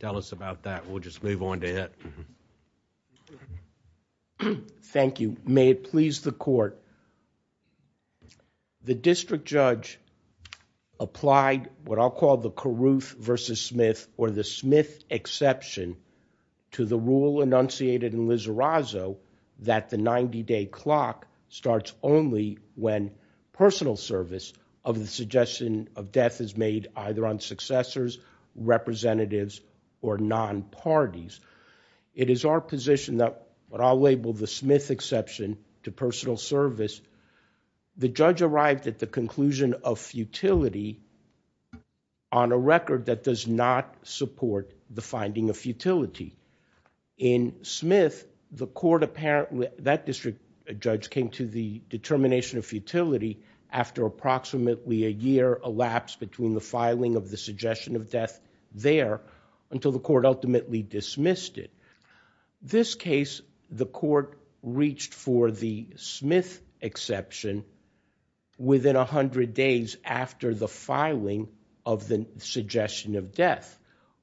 tell us about that. We'll just move on to it. Thank you. May it please the court. The district judge applied what I'll call the Caruth versus Smith or the Smith exception to the rule enunciated in Lizarrazo that the 90 day clock starts only when personal service of the suggestion of death is made either on successors, representatives, or non-parties. It is our position that what I'll label the Smith exception to personal service, the judge arrived at the conclusion of futility on a record that does not support the finding of futility. In Smith, the court apparently, that district judge came to the determination of futility after approximately a year elapsed between the suggestion of death there until the court ultimately dismissed it. This case, the court reached for the Smith exception within a hundred days after the filing of the suggestion of death.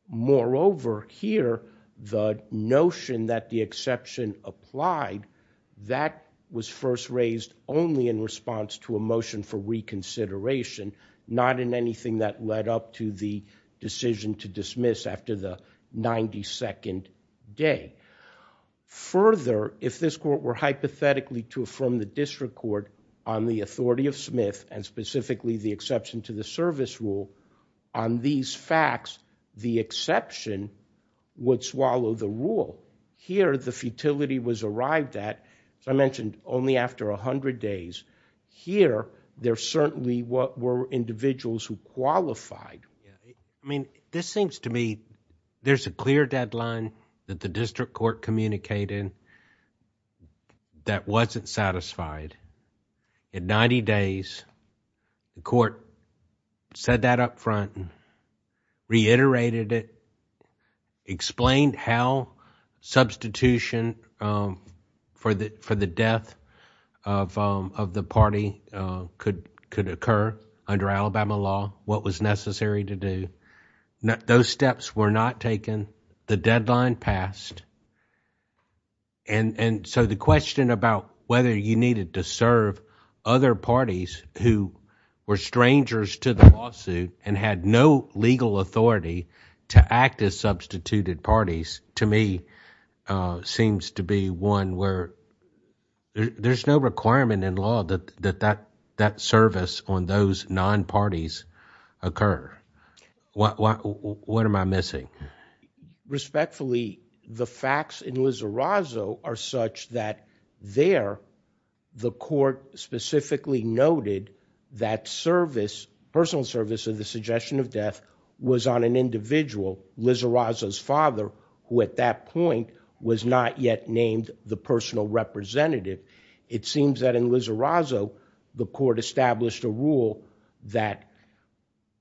Moreover, here the notion that the exception applied, that was first raised only in response to a motion for the decision to dismiss after the 92nd day. Further, if this court were hypothetically to affirm the district court on the authority of Smith and specifically the exception to the service rule on these facts, the exception would swallow the rule. Here, the futility was arrived at, as I mentioned, only after a hundred days. Here, there certainly were individuals who qualified. I mean, this seems to me there's a clear deadline that the district court communicated that wasn't satisfied. In 90 days, the court said that up front, reiterated it, explained how substitution for the death of the party could could occur under Alabama law, what was necessary to do. Those steps were not taken. The deadline passed and so the question about whether you needed to serve other parties who were strangers to the lawsuit and had no legal authority to act as substituted parties, to me, seems to be one where there's no requirement in law that that service on those non-parties occur. What am I missing? Respectfully, the facts in Lizarrazo are such that there, the court specifically noted that service, personal service of the suggestion of death, was on an individual, Lizarrazo's father, who at that point was not yet named the personal representative. It seems that in Lizarrazo, the court established a rule that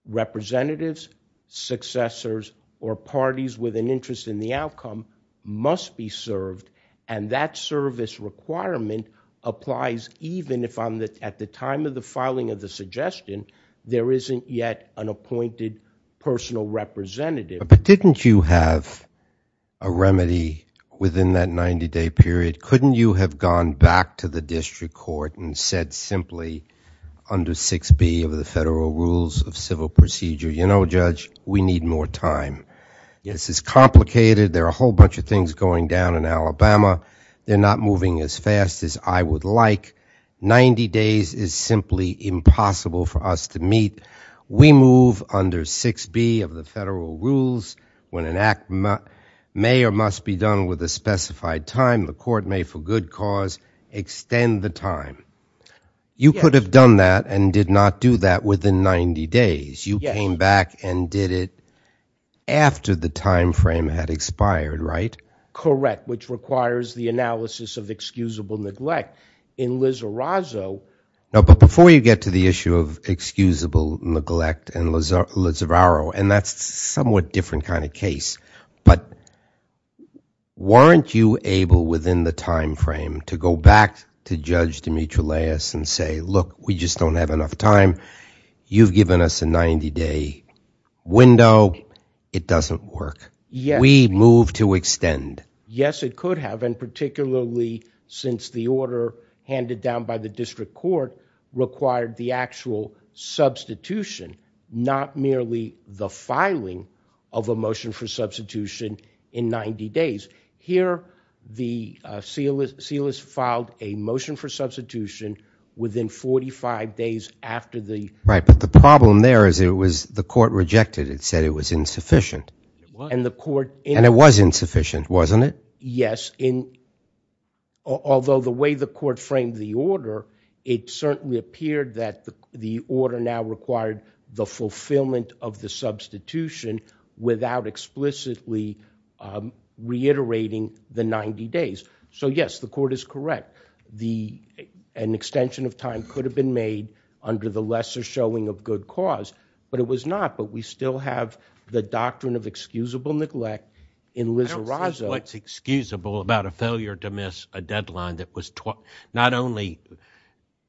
representatives, successors, or parties with an interest in the outcome must be served and that service requirement applies even if, at the time of the filing of the suggestion, there isn't yet an appointed personal representative. But didn't you have a remedy within that 90-day period? Couldn't you have gone back to the district court and said simply, under 6b of the federal rules of civil procedure, you know, Judge, we need more time? Yes, it's complicated. There are a whole bunch of things going down in Alabama. They're not moving as fast as I would like. 90 days is simply impossible for us to meet. We move under 6b of the federal rules when an act may or must be done with a specified time, the court may for good cause extend the time. You could have done that and did not do that within 90 days. You came back and did it after the time frame had expired, right? Correct, which requires the analysis of excusable neglect. In Lizarrazo... No, but before you get to the issue of excusable neglect and Lizarrazo, and that's somewhat different kind of case, but weren't you able within the time frame to go back to Judge Dimitriles and say, look, we just don't have enough time. You've given us a 90-day window. It doesn't work. We move to extend. Yes, it could have, and particularly since the order handed down by the district court required the actual substitution, not merely the filing of a motion for substitution in 90 days. Here, the seal is filed a motion for substitution within 45 days after the... Right, but the problem there is it was the court rejected. It said it was insufficient, and it was insufficient, wasn't it? Yes, although the way the court framed the order, it certainly appeared that the order now required the fulfillment of the substitution without explicitly reiterating the 90 days. So, yes, the court is correct. An extension of time could have been made under the lesser showing of good cause, but it was not, but we still have the doctrine of excusable neglect in Lizarrazo. I don't see what's excusable about a failure to miss a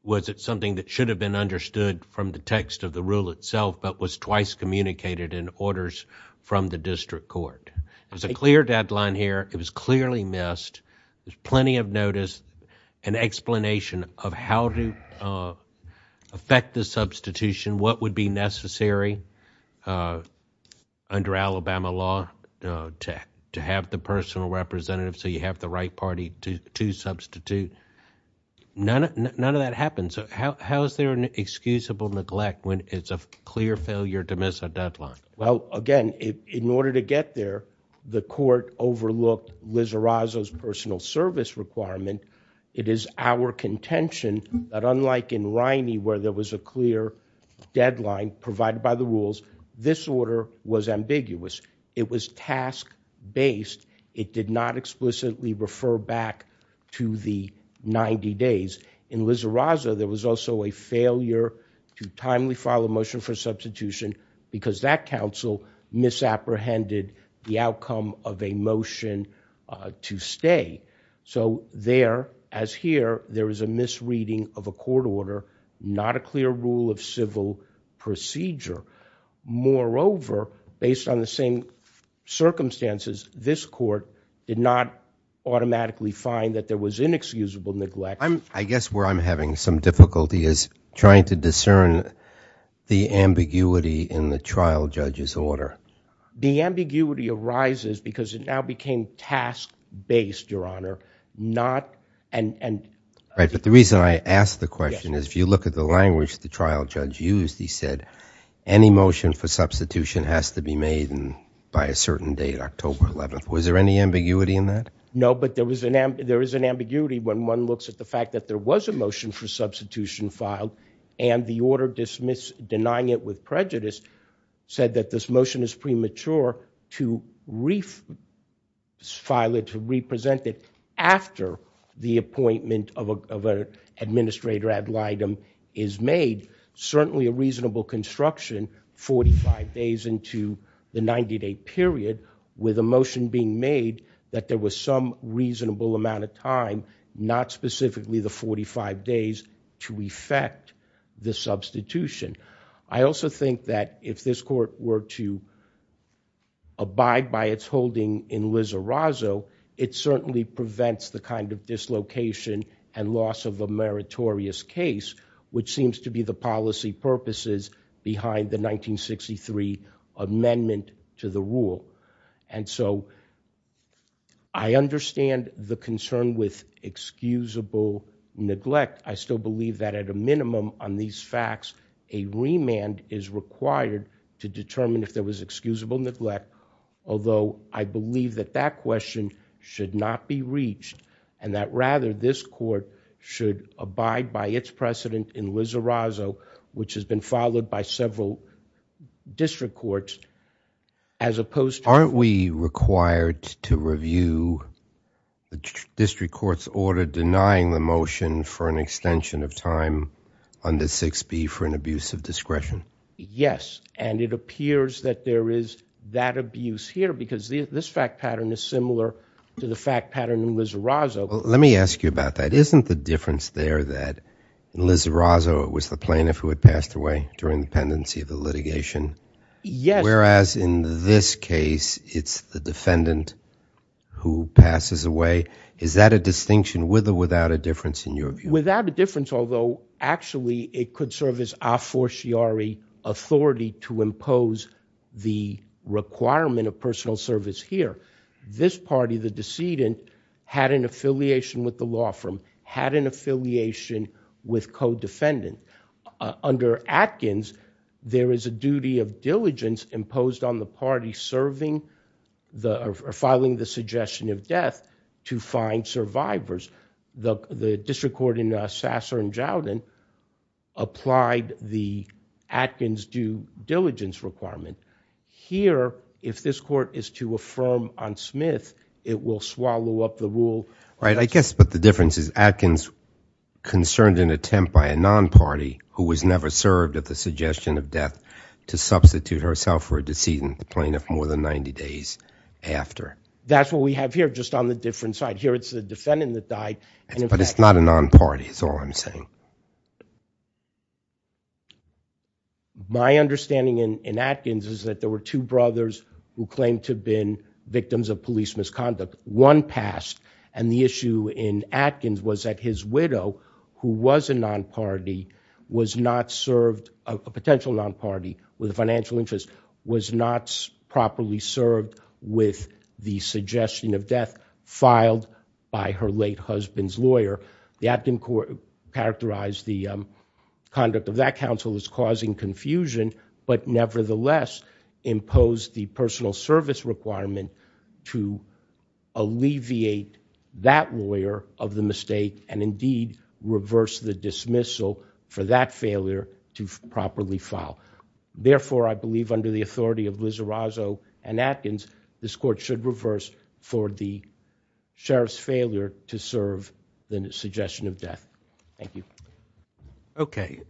Was it something that should have been understood from the text of the rule itself, but was twice communicated in orders from the district court? There's a clear deadline here. It was clearly missed. There's plenty of notice, an explanation of how to affect the substitution, what would be necessary under Alabama law to have the personal representative, so you have the right to substitute. None of that happens. How is there an excusable neglect when it's a clear failure to miss a deadline? Well, again, in order to get there, the court overlooked Lizarrazo's personal service requirement. It is our contention that unlike in Riney where there was a clear deadline provided by the rules, this order was ambiguous. It was task-based. It did not explicitly refer back to the 90 days. In Lizarrazo, there was also a failure to timely file a motion for substitution because that counsel misapprehended the outcome of a motion to stay. So there, as here, there is a misreading of a court order, not a clear rule of civil procedure. Moreover, based on the same circumstances, this automatically find that there was inexcusable neglect. I guess where I'm having some difficulty is trying to discern the ambiguity in the trial judge's order. The ambiguity arises because it now became task-based, Your Honor. Right, but the reason I asked the question is if you look at the language the trial judge used, he said any motion for substitution has to be No, but there is an ambiguity when one looks at the fact that there was a motion for substitution filed and the order denying it with prejudice said that this motion is premature to file it, to represent it after the appointment of an administrator ad litem is made. Certainly a reasonable construction 45 days into the 90-day period with a motion being made that there was some reasonable amount of time, not specifically the 45 days, to effect the substitution. I also think that if this court were to abide by its holding in Lizarrazo, it certainly prevents the kind of dislocation and loss of a meritorious case, which seems to be the policy purposes behind the I understand the concern with excusable neglect. I still believe that at a minimum on these facts, a remand is required to determine if there was excusable neglect, although I believe that that question should not be reached and that rather this court should abide by its precedent in Lizarrazo, which has been followed by several district courts, as opposed to... Aren't we required to view the district court's order denying the motion for an extension of time under 6b for an abuse of discretion? Yes, and it appears that there is that abuse here because this fact pattern is similar to the fact pattern in Lizarrazo. Let me ask you about that. Isn't the difference there that in Lizarrazo it was the plaintiff who had passed away during the pendency of the litigation? Yes. Whereas in this case it's the defendant who passes away. Is that a distinction with or without a difference in your view? Without a difference, although actually it could serve as a fortiori authority to impose the requirement of personal service here. This party, the decedent, had an affiliation with the law firm, had an affiliation with co-defendant. Under Atkins, there is a duty of diligence imposed on the party serving or filing the suggestion of death to find survivors. The district court in Sasser and Jowden applied the Atkins due diligence requirement. Here, if this court is to affirm on Smith, it will swallow up the rule. Right, I guess, but the difference is Atkins concerned an attempt by a non-party who was never served at the suggestion of death to substitute herself for a decedent, the plaintiff, more than 90 days after. That's what we have here, just on the different side. Here it's the defendant that died. But it's not a non-party, that's all I'm saying. My understanding in Atkins is that there were two brothers who claimed to have been victims of police misconduct. One passed and the issue in Atkins was that his widow, who was a non-party, was not properly served with the suggestion of death filed by her late husband's lawyer. The Atkins court characterized the conduct of that counsel as causing confusion, but nevertheless imposed the personal service requirement to alleviate that lawyer of the mistake and indeed reverse the dismissal for that under the authority of Liz Arrazzo and Atkins, this court should reverse for the sheriff's failure to serve the suggestion of death. Thank you. Okay,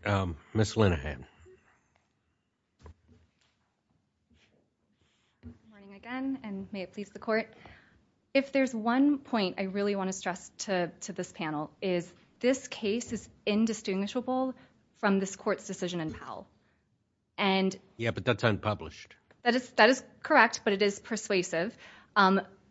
Miss Linehan. Again, and may it please the court, if there's one point I really want to stress to this panel is this case is indistinguishable from this court's Yeah, but that's unpublished. That is correct, but it is persuasive.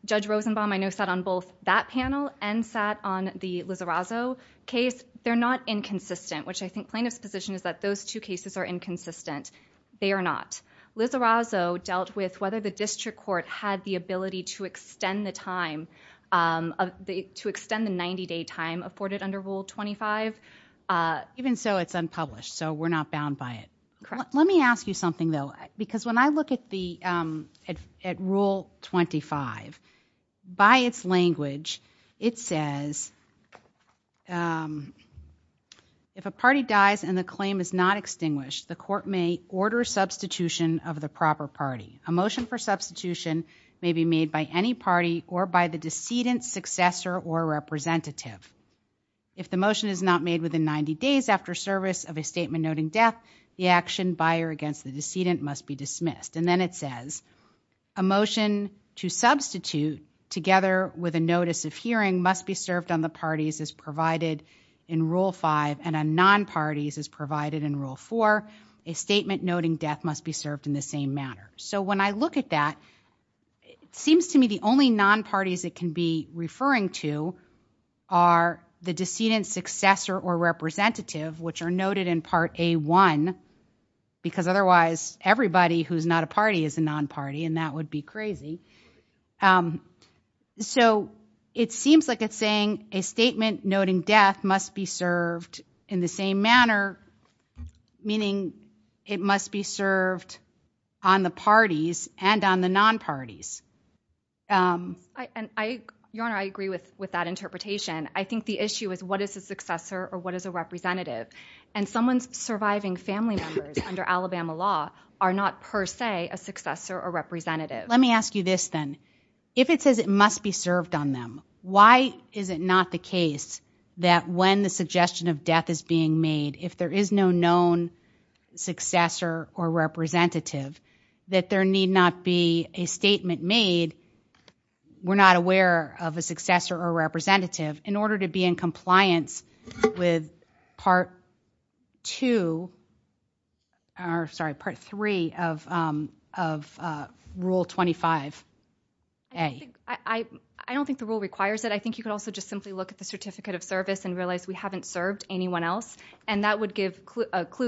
Judge Rosenbaum I know sat on both that panel and sat on the Liz Arrazzo case. They're not inconsistent, which I think plaintiff's position is that those two cases are inconsistent. They are not. Liz Arrazzo dealt with whether the district court had the ability to extend the time, to extend the 90-day time afforded under Rule 25. Even so, it's unpublished, so we're not bound by it. Let me ask you something, though, because when I look at the at Rule 25, by its language, it says if a party dies and the claim is not extinguished, the court may order substitution of the proper party. A motion for substitution may be made by any party or by the decedent, successor, or representative. If the motion is not made within 90 days after service of a statement noting death, the action by or against the decedent must be dismissed. And then it says a motion to substitute together with a notice of hearing must be served on the parties as provided in Rule 5 and on non-parties as provided in Rule 4. A statement noting death must be served in the same manner. So when I look at that, it seems to me the only non-parties it can be referring to are the decedent, successor, or representative, which are noted in Part A1, because otherwise everybody who's not a party is a non-party, and that would be crazy. So it seems like it's saying a statement noting death must be served in the same manner, meaning it must be served on the parties and on the non-parties. Your Honor, I agree with that interpretation. I think the issue is what is a successor or what is a representative? And someone's surviving family members under Alabama law are not per se a successor or representative. Let me ask you this then. If it says it must be served on them, why is it not the case that when the successor or representative, that there need not be a statement made, we're not aware of a successor or representative, in order to be in compliance with Part 2, or sorry, Part 3 of Rule 25A? I don't think the rule requires it. I think you could also just simply look at the Certificate of Service and realize we have a clue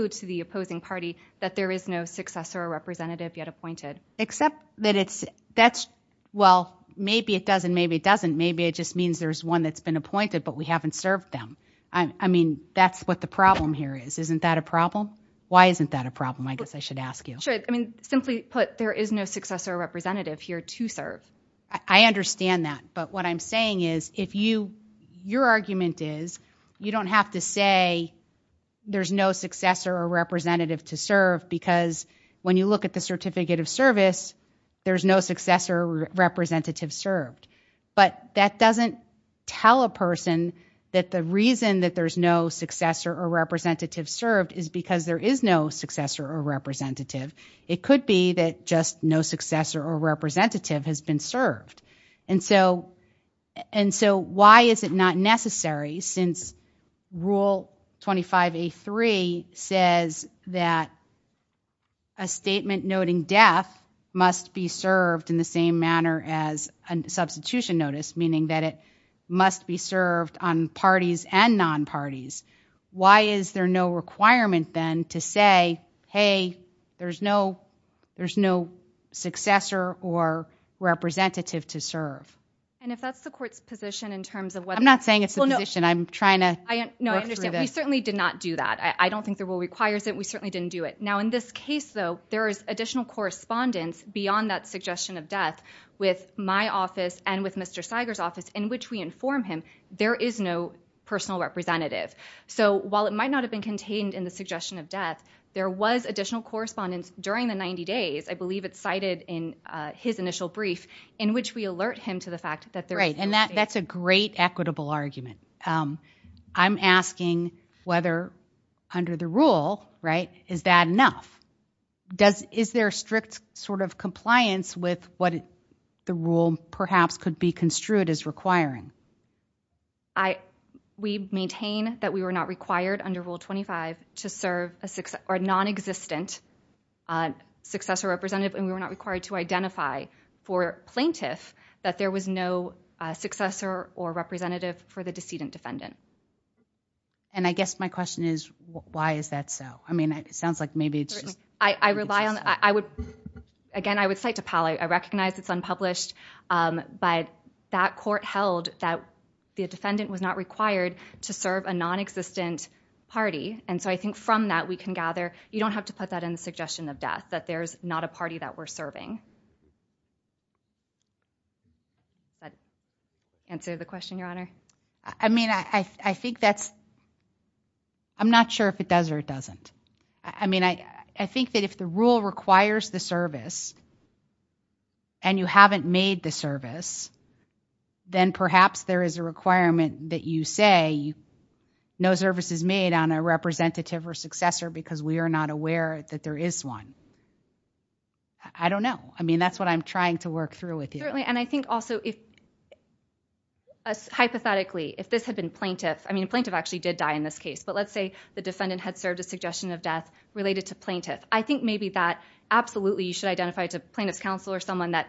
to the opposing party that there is no successor or representative yet appointed. Except that it's, that's, well, maybe it does and maybe it doesn't. Maybe it just means there's one that's been appointed but we haven't served them. I mean, that's what the problem here is. Isn't that a problem? Why isn't that a problem? I guess I should ask you. Sure, I mean, simply put, there is no successor or representative here to serve. I understand that, but what I'm saying is, if you, your argument is, you don't have to say there's no successor or representative to serve, because when you look at the Certificate of Service, there's no successor or representative served. But that doesn't tell a person that the reason that there's no successor or representative served is because there is no successor or representative. It could be that just no successor or representative has been served. And so, why is it not necessary since Rule 25A3 says that a statement noting death must be served in the same manner as a substitution notice, meaning that it must be served on parties and non-parties. Why is there no requirement then to say, hey, there's no successor or representative to serve? And if that's the court's position in terms of whether... I'm not saying it's the position. I'm trying to work through this. No, I understand. We certainly did not do that. I don't think the rule requires it. We certainly didn't do it. Now, in this case, though, there is additional correspondence beyond that suggestion of death with my office and with Mr. Seiger's office, in which we inform him there is no personal representative. So, while it might not have been contained in the suggestion of death, there was additional correspondence during the 90 days, I believe it's cited in his initial brief, in which we alert him to the fact that... Right, and that's a great equitable argument. I'm asking whether under the rule, right, is that enough? Is there strict sort of compliance with what the rule perhaps could be construed as requiring? We maintain that we were not required under Rule 25 to serve a non-existent successor or representative, and we were not required to identify for plaintiff that there was no successor or representative for the decedent defendant. And I guess my question is, why is that so? I mean, it sounds like maybe it's just... I rely on, I would, again, I would cite to Powell, I recognize it's unpublished, but that court held that the defendant was not required to serve a non-existent party, and so I think from that, we can gather you don't have to put that in the suggestion of death, that there's not a party that we're serving. Does that answer the question, Your Honor? I mean, I think that's... I'm not sure if it does or it doesn't. I mean, I think that if the rule requires the service and you haven't made the service, then perhaps there is a requirement that you say no service is made on a representative or successor because we are not aware that there is one. I don't know. I mean, that's what I'm trying to work through with you. Certainly, and I think also if, hypothetically, if this had been plaintiff, I mean, a plaintiff actually did die in this case, but let's say the defendant had served a suggestion of death related to plaintiff. I think maybe that absolutely you should identify to plaintiff's counsel or someone that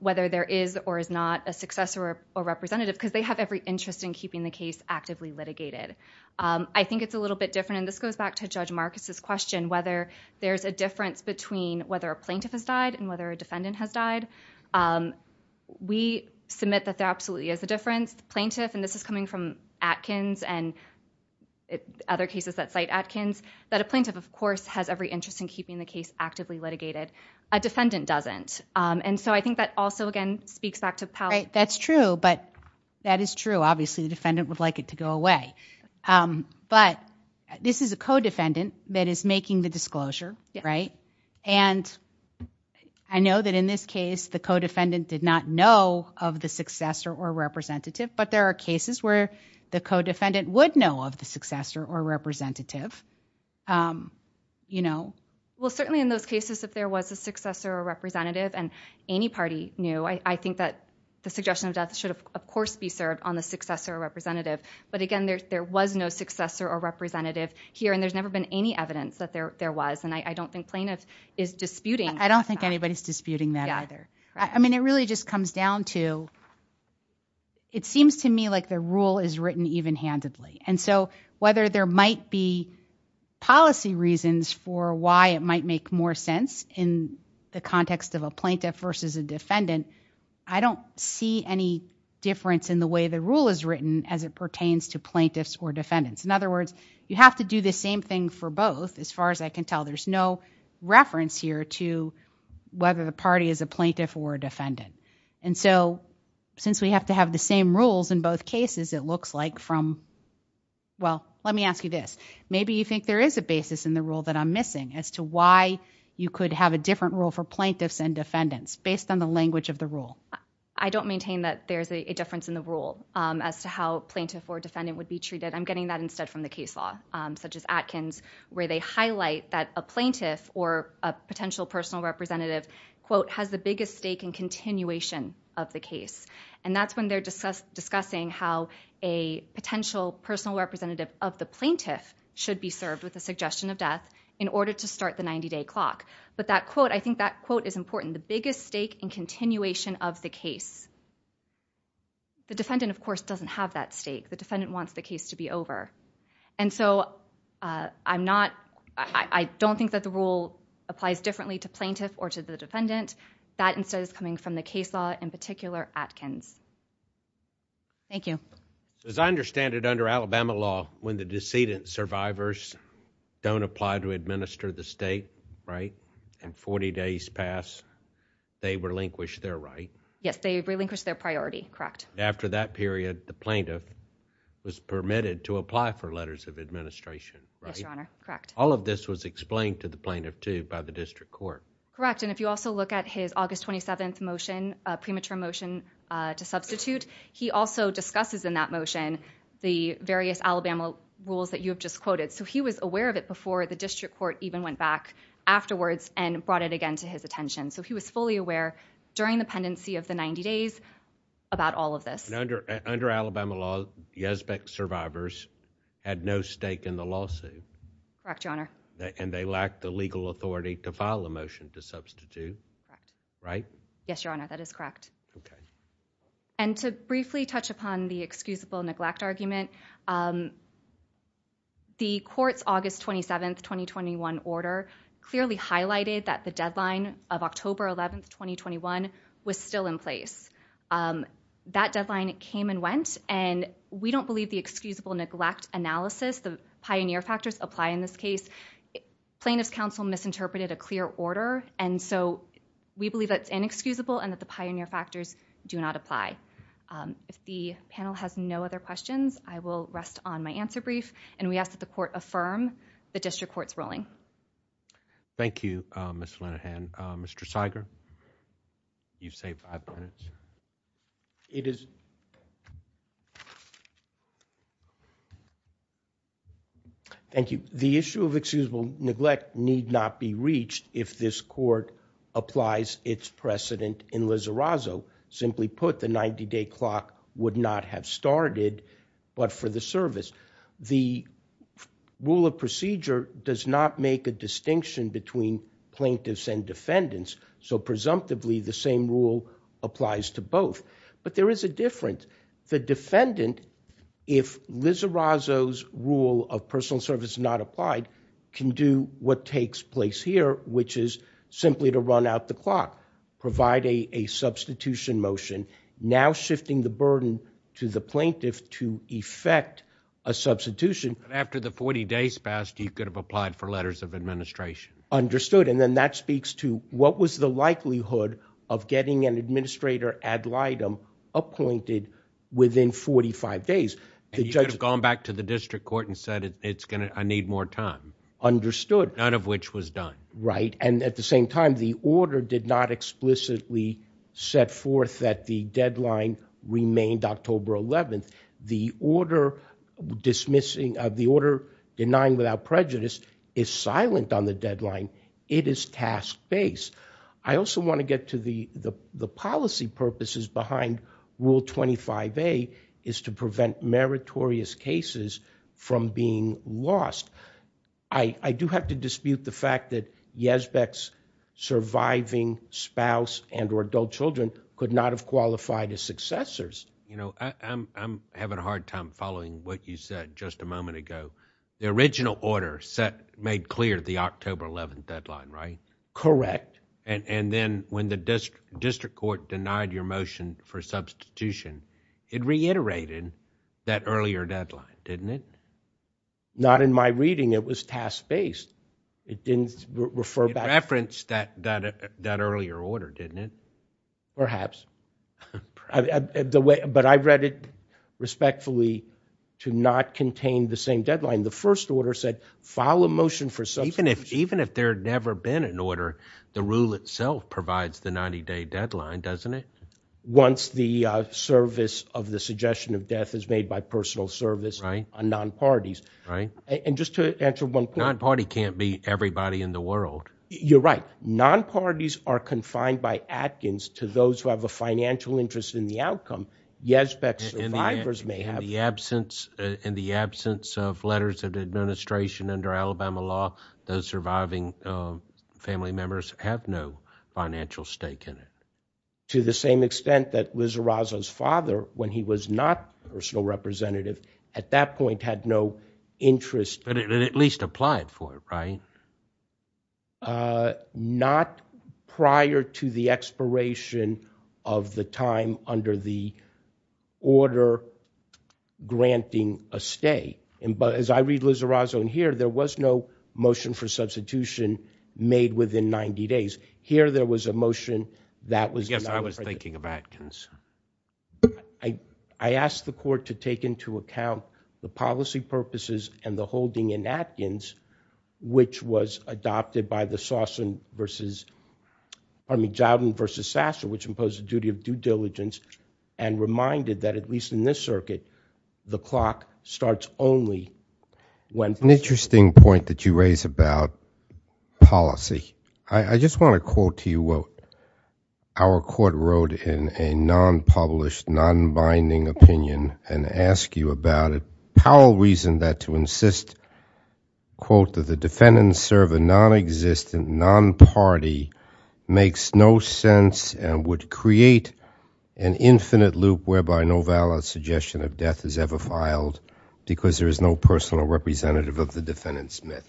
whether there is or is not a successor or representative because they have every interest in keeping the case actively litigated. I think it's a little bit different, and this goes back to Judge Marcus's question, whether there's a difference between whether a plaintiff has died and whether a defendant has died. We submit that there absolutely is a difference. Plaintiff, and this is coming from Atkins and other cases that cite Atkins, that a plaintiff, of course, has every interest in keeping the case actively litigated. A defendant doesn't, and so I think that also, again, speaks back to Powell. Right. That's true, but that is true. Obviously, the defendant would like it to go away, but this is a co-defendant that is making the disclosure, right? And I know that in this case, the co-defendant did not know of the successor or representative, but there are cases where the co-defendant would know of the successor or representative. Well, certainly in those cases, if there was a successor or representative and any party knew, I think that the suggestion of death should, of course, be served on the successor or representative, but again, there was no successor or representative here, and there's never been any evidence that there was, and I don't think plaintiffs is disputing that. I don't think anybody's disputing that either. I mean, it really just comes down to, it seems to me like the rule is written even-handedly, and so whether there might be policy reasons for why it might make more sense in the context of a plaintiff versus a defendant, I don't see any difference in the way the rule is written as it pertains to plaintiffs or defendants. In other words, you have to do the same thing for both, as far as I can tell. There's no reference here to whether the party is a plaintiff or a defendant. And so, since we have to have the same rules in both cases, it looks like from, well, let me ask you this. Maybe you think there is a basis in the rule that I'm missing, as to why you could have a different rule for plaintiffs and defendants, based on the language of the rule. I don't maintain that there's a difference in the rule as to how plaintiff or defendant would be treated. I'm getting that instead from the case law, such as Atkins, where they highlight that a plaintiff or a potential personal representative, quote, has the biggest stake in continuation of the case. And that's when they're discussing how a potential personal representative of the plaintiff should be served with a suggestion of death in order to start the 90-day clock. But that quote, I think that quote is important. The biggest stake in continuation of the case. The defendant, of course, doesn't have that stake. The defendant wants the case to be over. And so, I'm not, I don't think that the rule applies differently to plaintiff or to the defendant. That, instead, is coming from the case law, in particular, Atkins. Thank you. As I understand it, under Alabama law, when the decedent survivors don't apply to administer the state, right, and 40 days pass, they relinquish their right. Yes, they relinquish their priority, correct. After that period, the plaintiff was permitted to apply for letters of administration, right? Yes, Your Honor, correct. All of this was explained to the plaintiff, too, by the district court. Correct, and if you also look at his August 27th motion, premature motion to substitute, he also discusses in that motion the various Alabama rules that you have just quoted. So, he was aware of it before the district court even went back afterwards and brought it again to his attention. So, he was fully aware during the pendency of the 90 days about all of this. And under Alabama law, Yesbeck survivors had no stake in the lawsuit. Correct, Your Honor. And they lacked the legal authority to file a motion to substitute, right? Yes, Your Honor, that is correct. Okay. And to briefly touch upon the excusable neglect argument, the court's August 27th, 2021 order clearly highlighted that the deadline of October 11th, 2021 was still in place. That deadline came and went, and we don't believe the excusable neglect analysis, the pioneer factors apply in this case. Plaintiff's counsel misinterpreted a clear order, and so we believe that it's inexcusable and that the pioneer factors do not apply. If the panel has no other questions, I will rest on my answer brief, and we ask that the court affirm the district court's ruling. Thank you, Ms. Linehan. Mr. Siger, you've saved five minutes. It is. Thank you. The issue of excusable neglect need not be reached if this court applies its precedent in Lizarrazo. Simply put, the 90-day clock would not have started but for the service. The rule of procedure does not make a distinction between plaintiffs and defendants, so presumptively the same rule applies to both, but there is a difference. The defendant, if Lizarrazo's rule of personal service is not applied, can do what takes place here, which is simply to run out the clock, provide a substitution motion, now shifting the burden to the plaintiff to effect a substitution. After the 40 days passed, you could have applied for letters of administration. Understood, and then that speaks to what was the likelihood of getting an administrator ad litem appointed within 45 days. You could have gone back to the district court and said, I need more time. Understood. None of which was done. Right, and at the same time, the order did not explicitly set forth that the deadline remained October 11th. The order denying without prejudice is silent on the deadline. It is task-based. I also want to get to the policy purposes behind Rule 25a, is to prevent meritorious cases from being lost. I do have to dispute the fact that Yazbek's surviving spouse and or adult children could not have qualified as successors. I'm having a hard time following what you said just a moment ago. The original order made clear the October 11th deadline, right? Correct. Then when the district court denied your motion for substitution, it reiterated that earlier deadline, didn't it? Not in my reading, it was task-based. It didn't refer back. It referenced that earlier order, didn't it? Perhaps. But I read it respectfully to not contain the same deadline. The first order said, file a motion for substitution. Even if there had never been an order, the rule itself provides the 90-day deadline, doesn't it? Once the service of the suggestion of death is made by personal service, non-parties, and just to answer one point. Non-party can't be everybody in the world. You're right. Non-parties are confined by Atkins to those who have a financial interest in the outcome. Yazbek's survivors may have. In the absence of letters of administration under Alabama law, those surviving family members have no financial stake in it. To the same extent that Wizarazo's father, when he was not a personal representative, at that point had no interest. But it at least applied for it, right? Not prior to the expiration of the time under the order granting a stay. But as I read Wizarazo in here, there was no motion for substitution made within 90 days. Here there was a motion that was- I guess I was thinking of Atkins. I asked the court to take into account the policy purposes and the holding in Atkins, which was adopted by the Sossin versus- I mean, Jowden versus Sasser, which imposed a duty of due diligence and reminded that at least in this circuit, the clock starts only when- An interesting point that you raise about policy. I just want to quote to you what our court wrote in a non-published, non-binding opinion and ask you about it. Powell reasoned that to insist, quote, that the defendants serve a non-existent, non-party, makes no sense and would create an infinite loop whereby no valid suggestion of death is ever filed because there is no personal representative of the defendant's myth.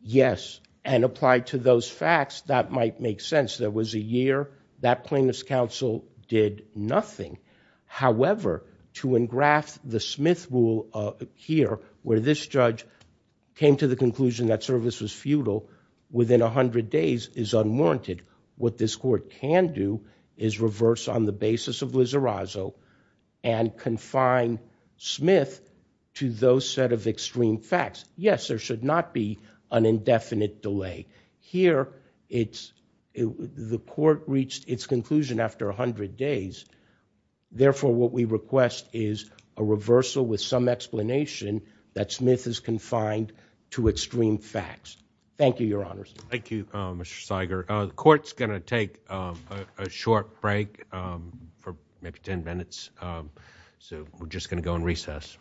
Yes, and applied to those facts, that might make sense. There was a year that plaintiff's counsel did nothing. However, to engraft the Smith rule here where this judge came to the conclusion that service was futile within 100 days is unwarranted. What this court can do is reverse on the basis of Wizarazo and confine Smith to those set of extreme facts. Yes, there should not be an indefinite delay. Here, the court reached its conclusion after 100 days. Therefore, what we request is a reversal with some explanation that Smith is confined to extreme facts. Thank you, Your Honors. Thank you, Mr. Seiger. The court's going to take a short break for maybe 10 minutes. We're just going to go on recess.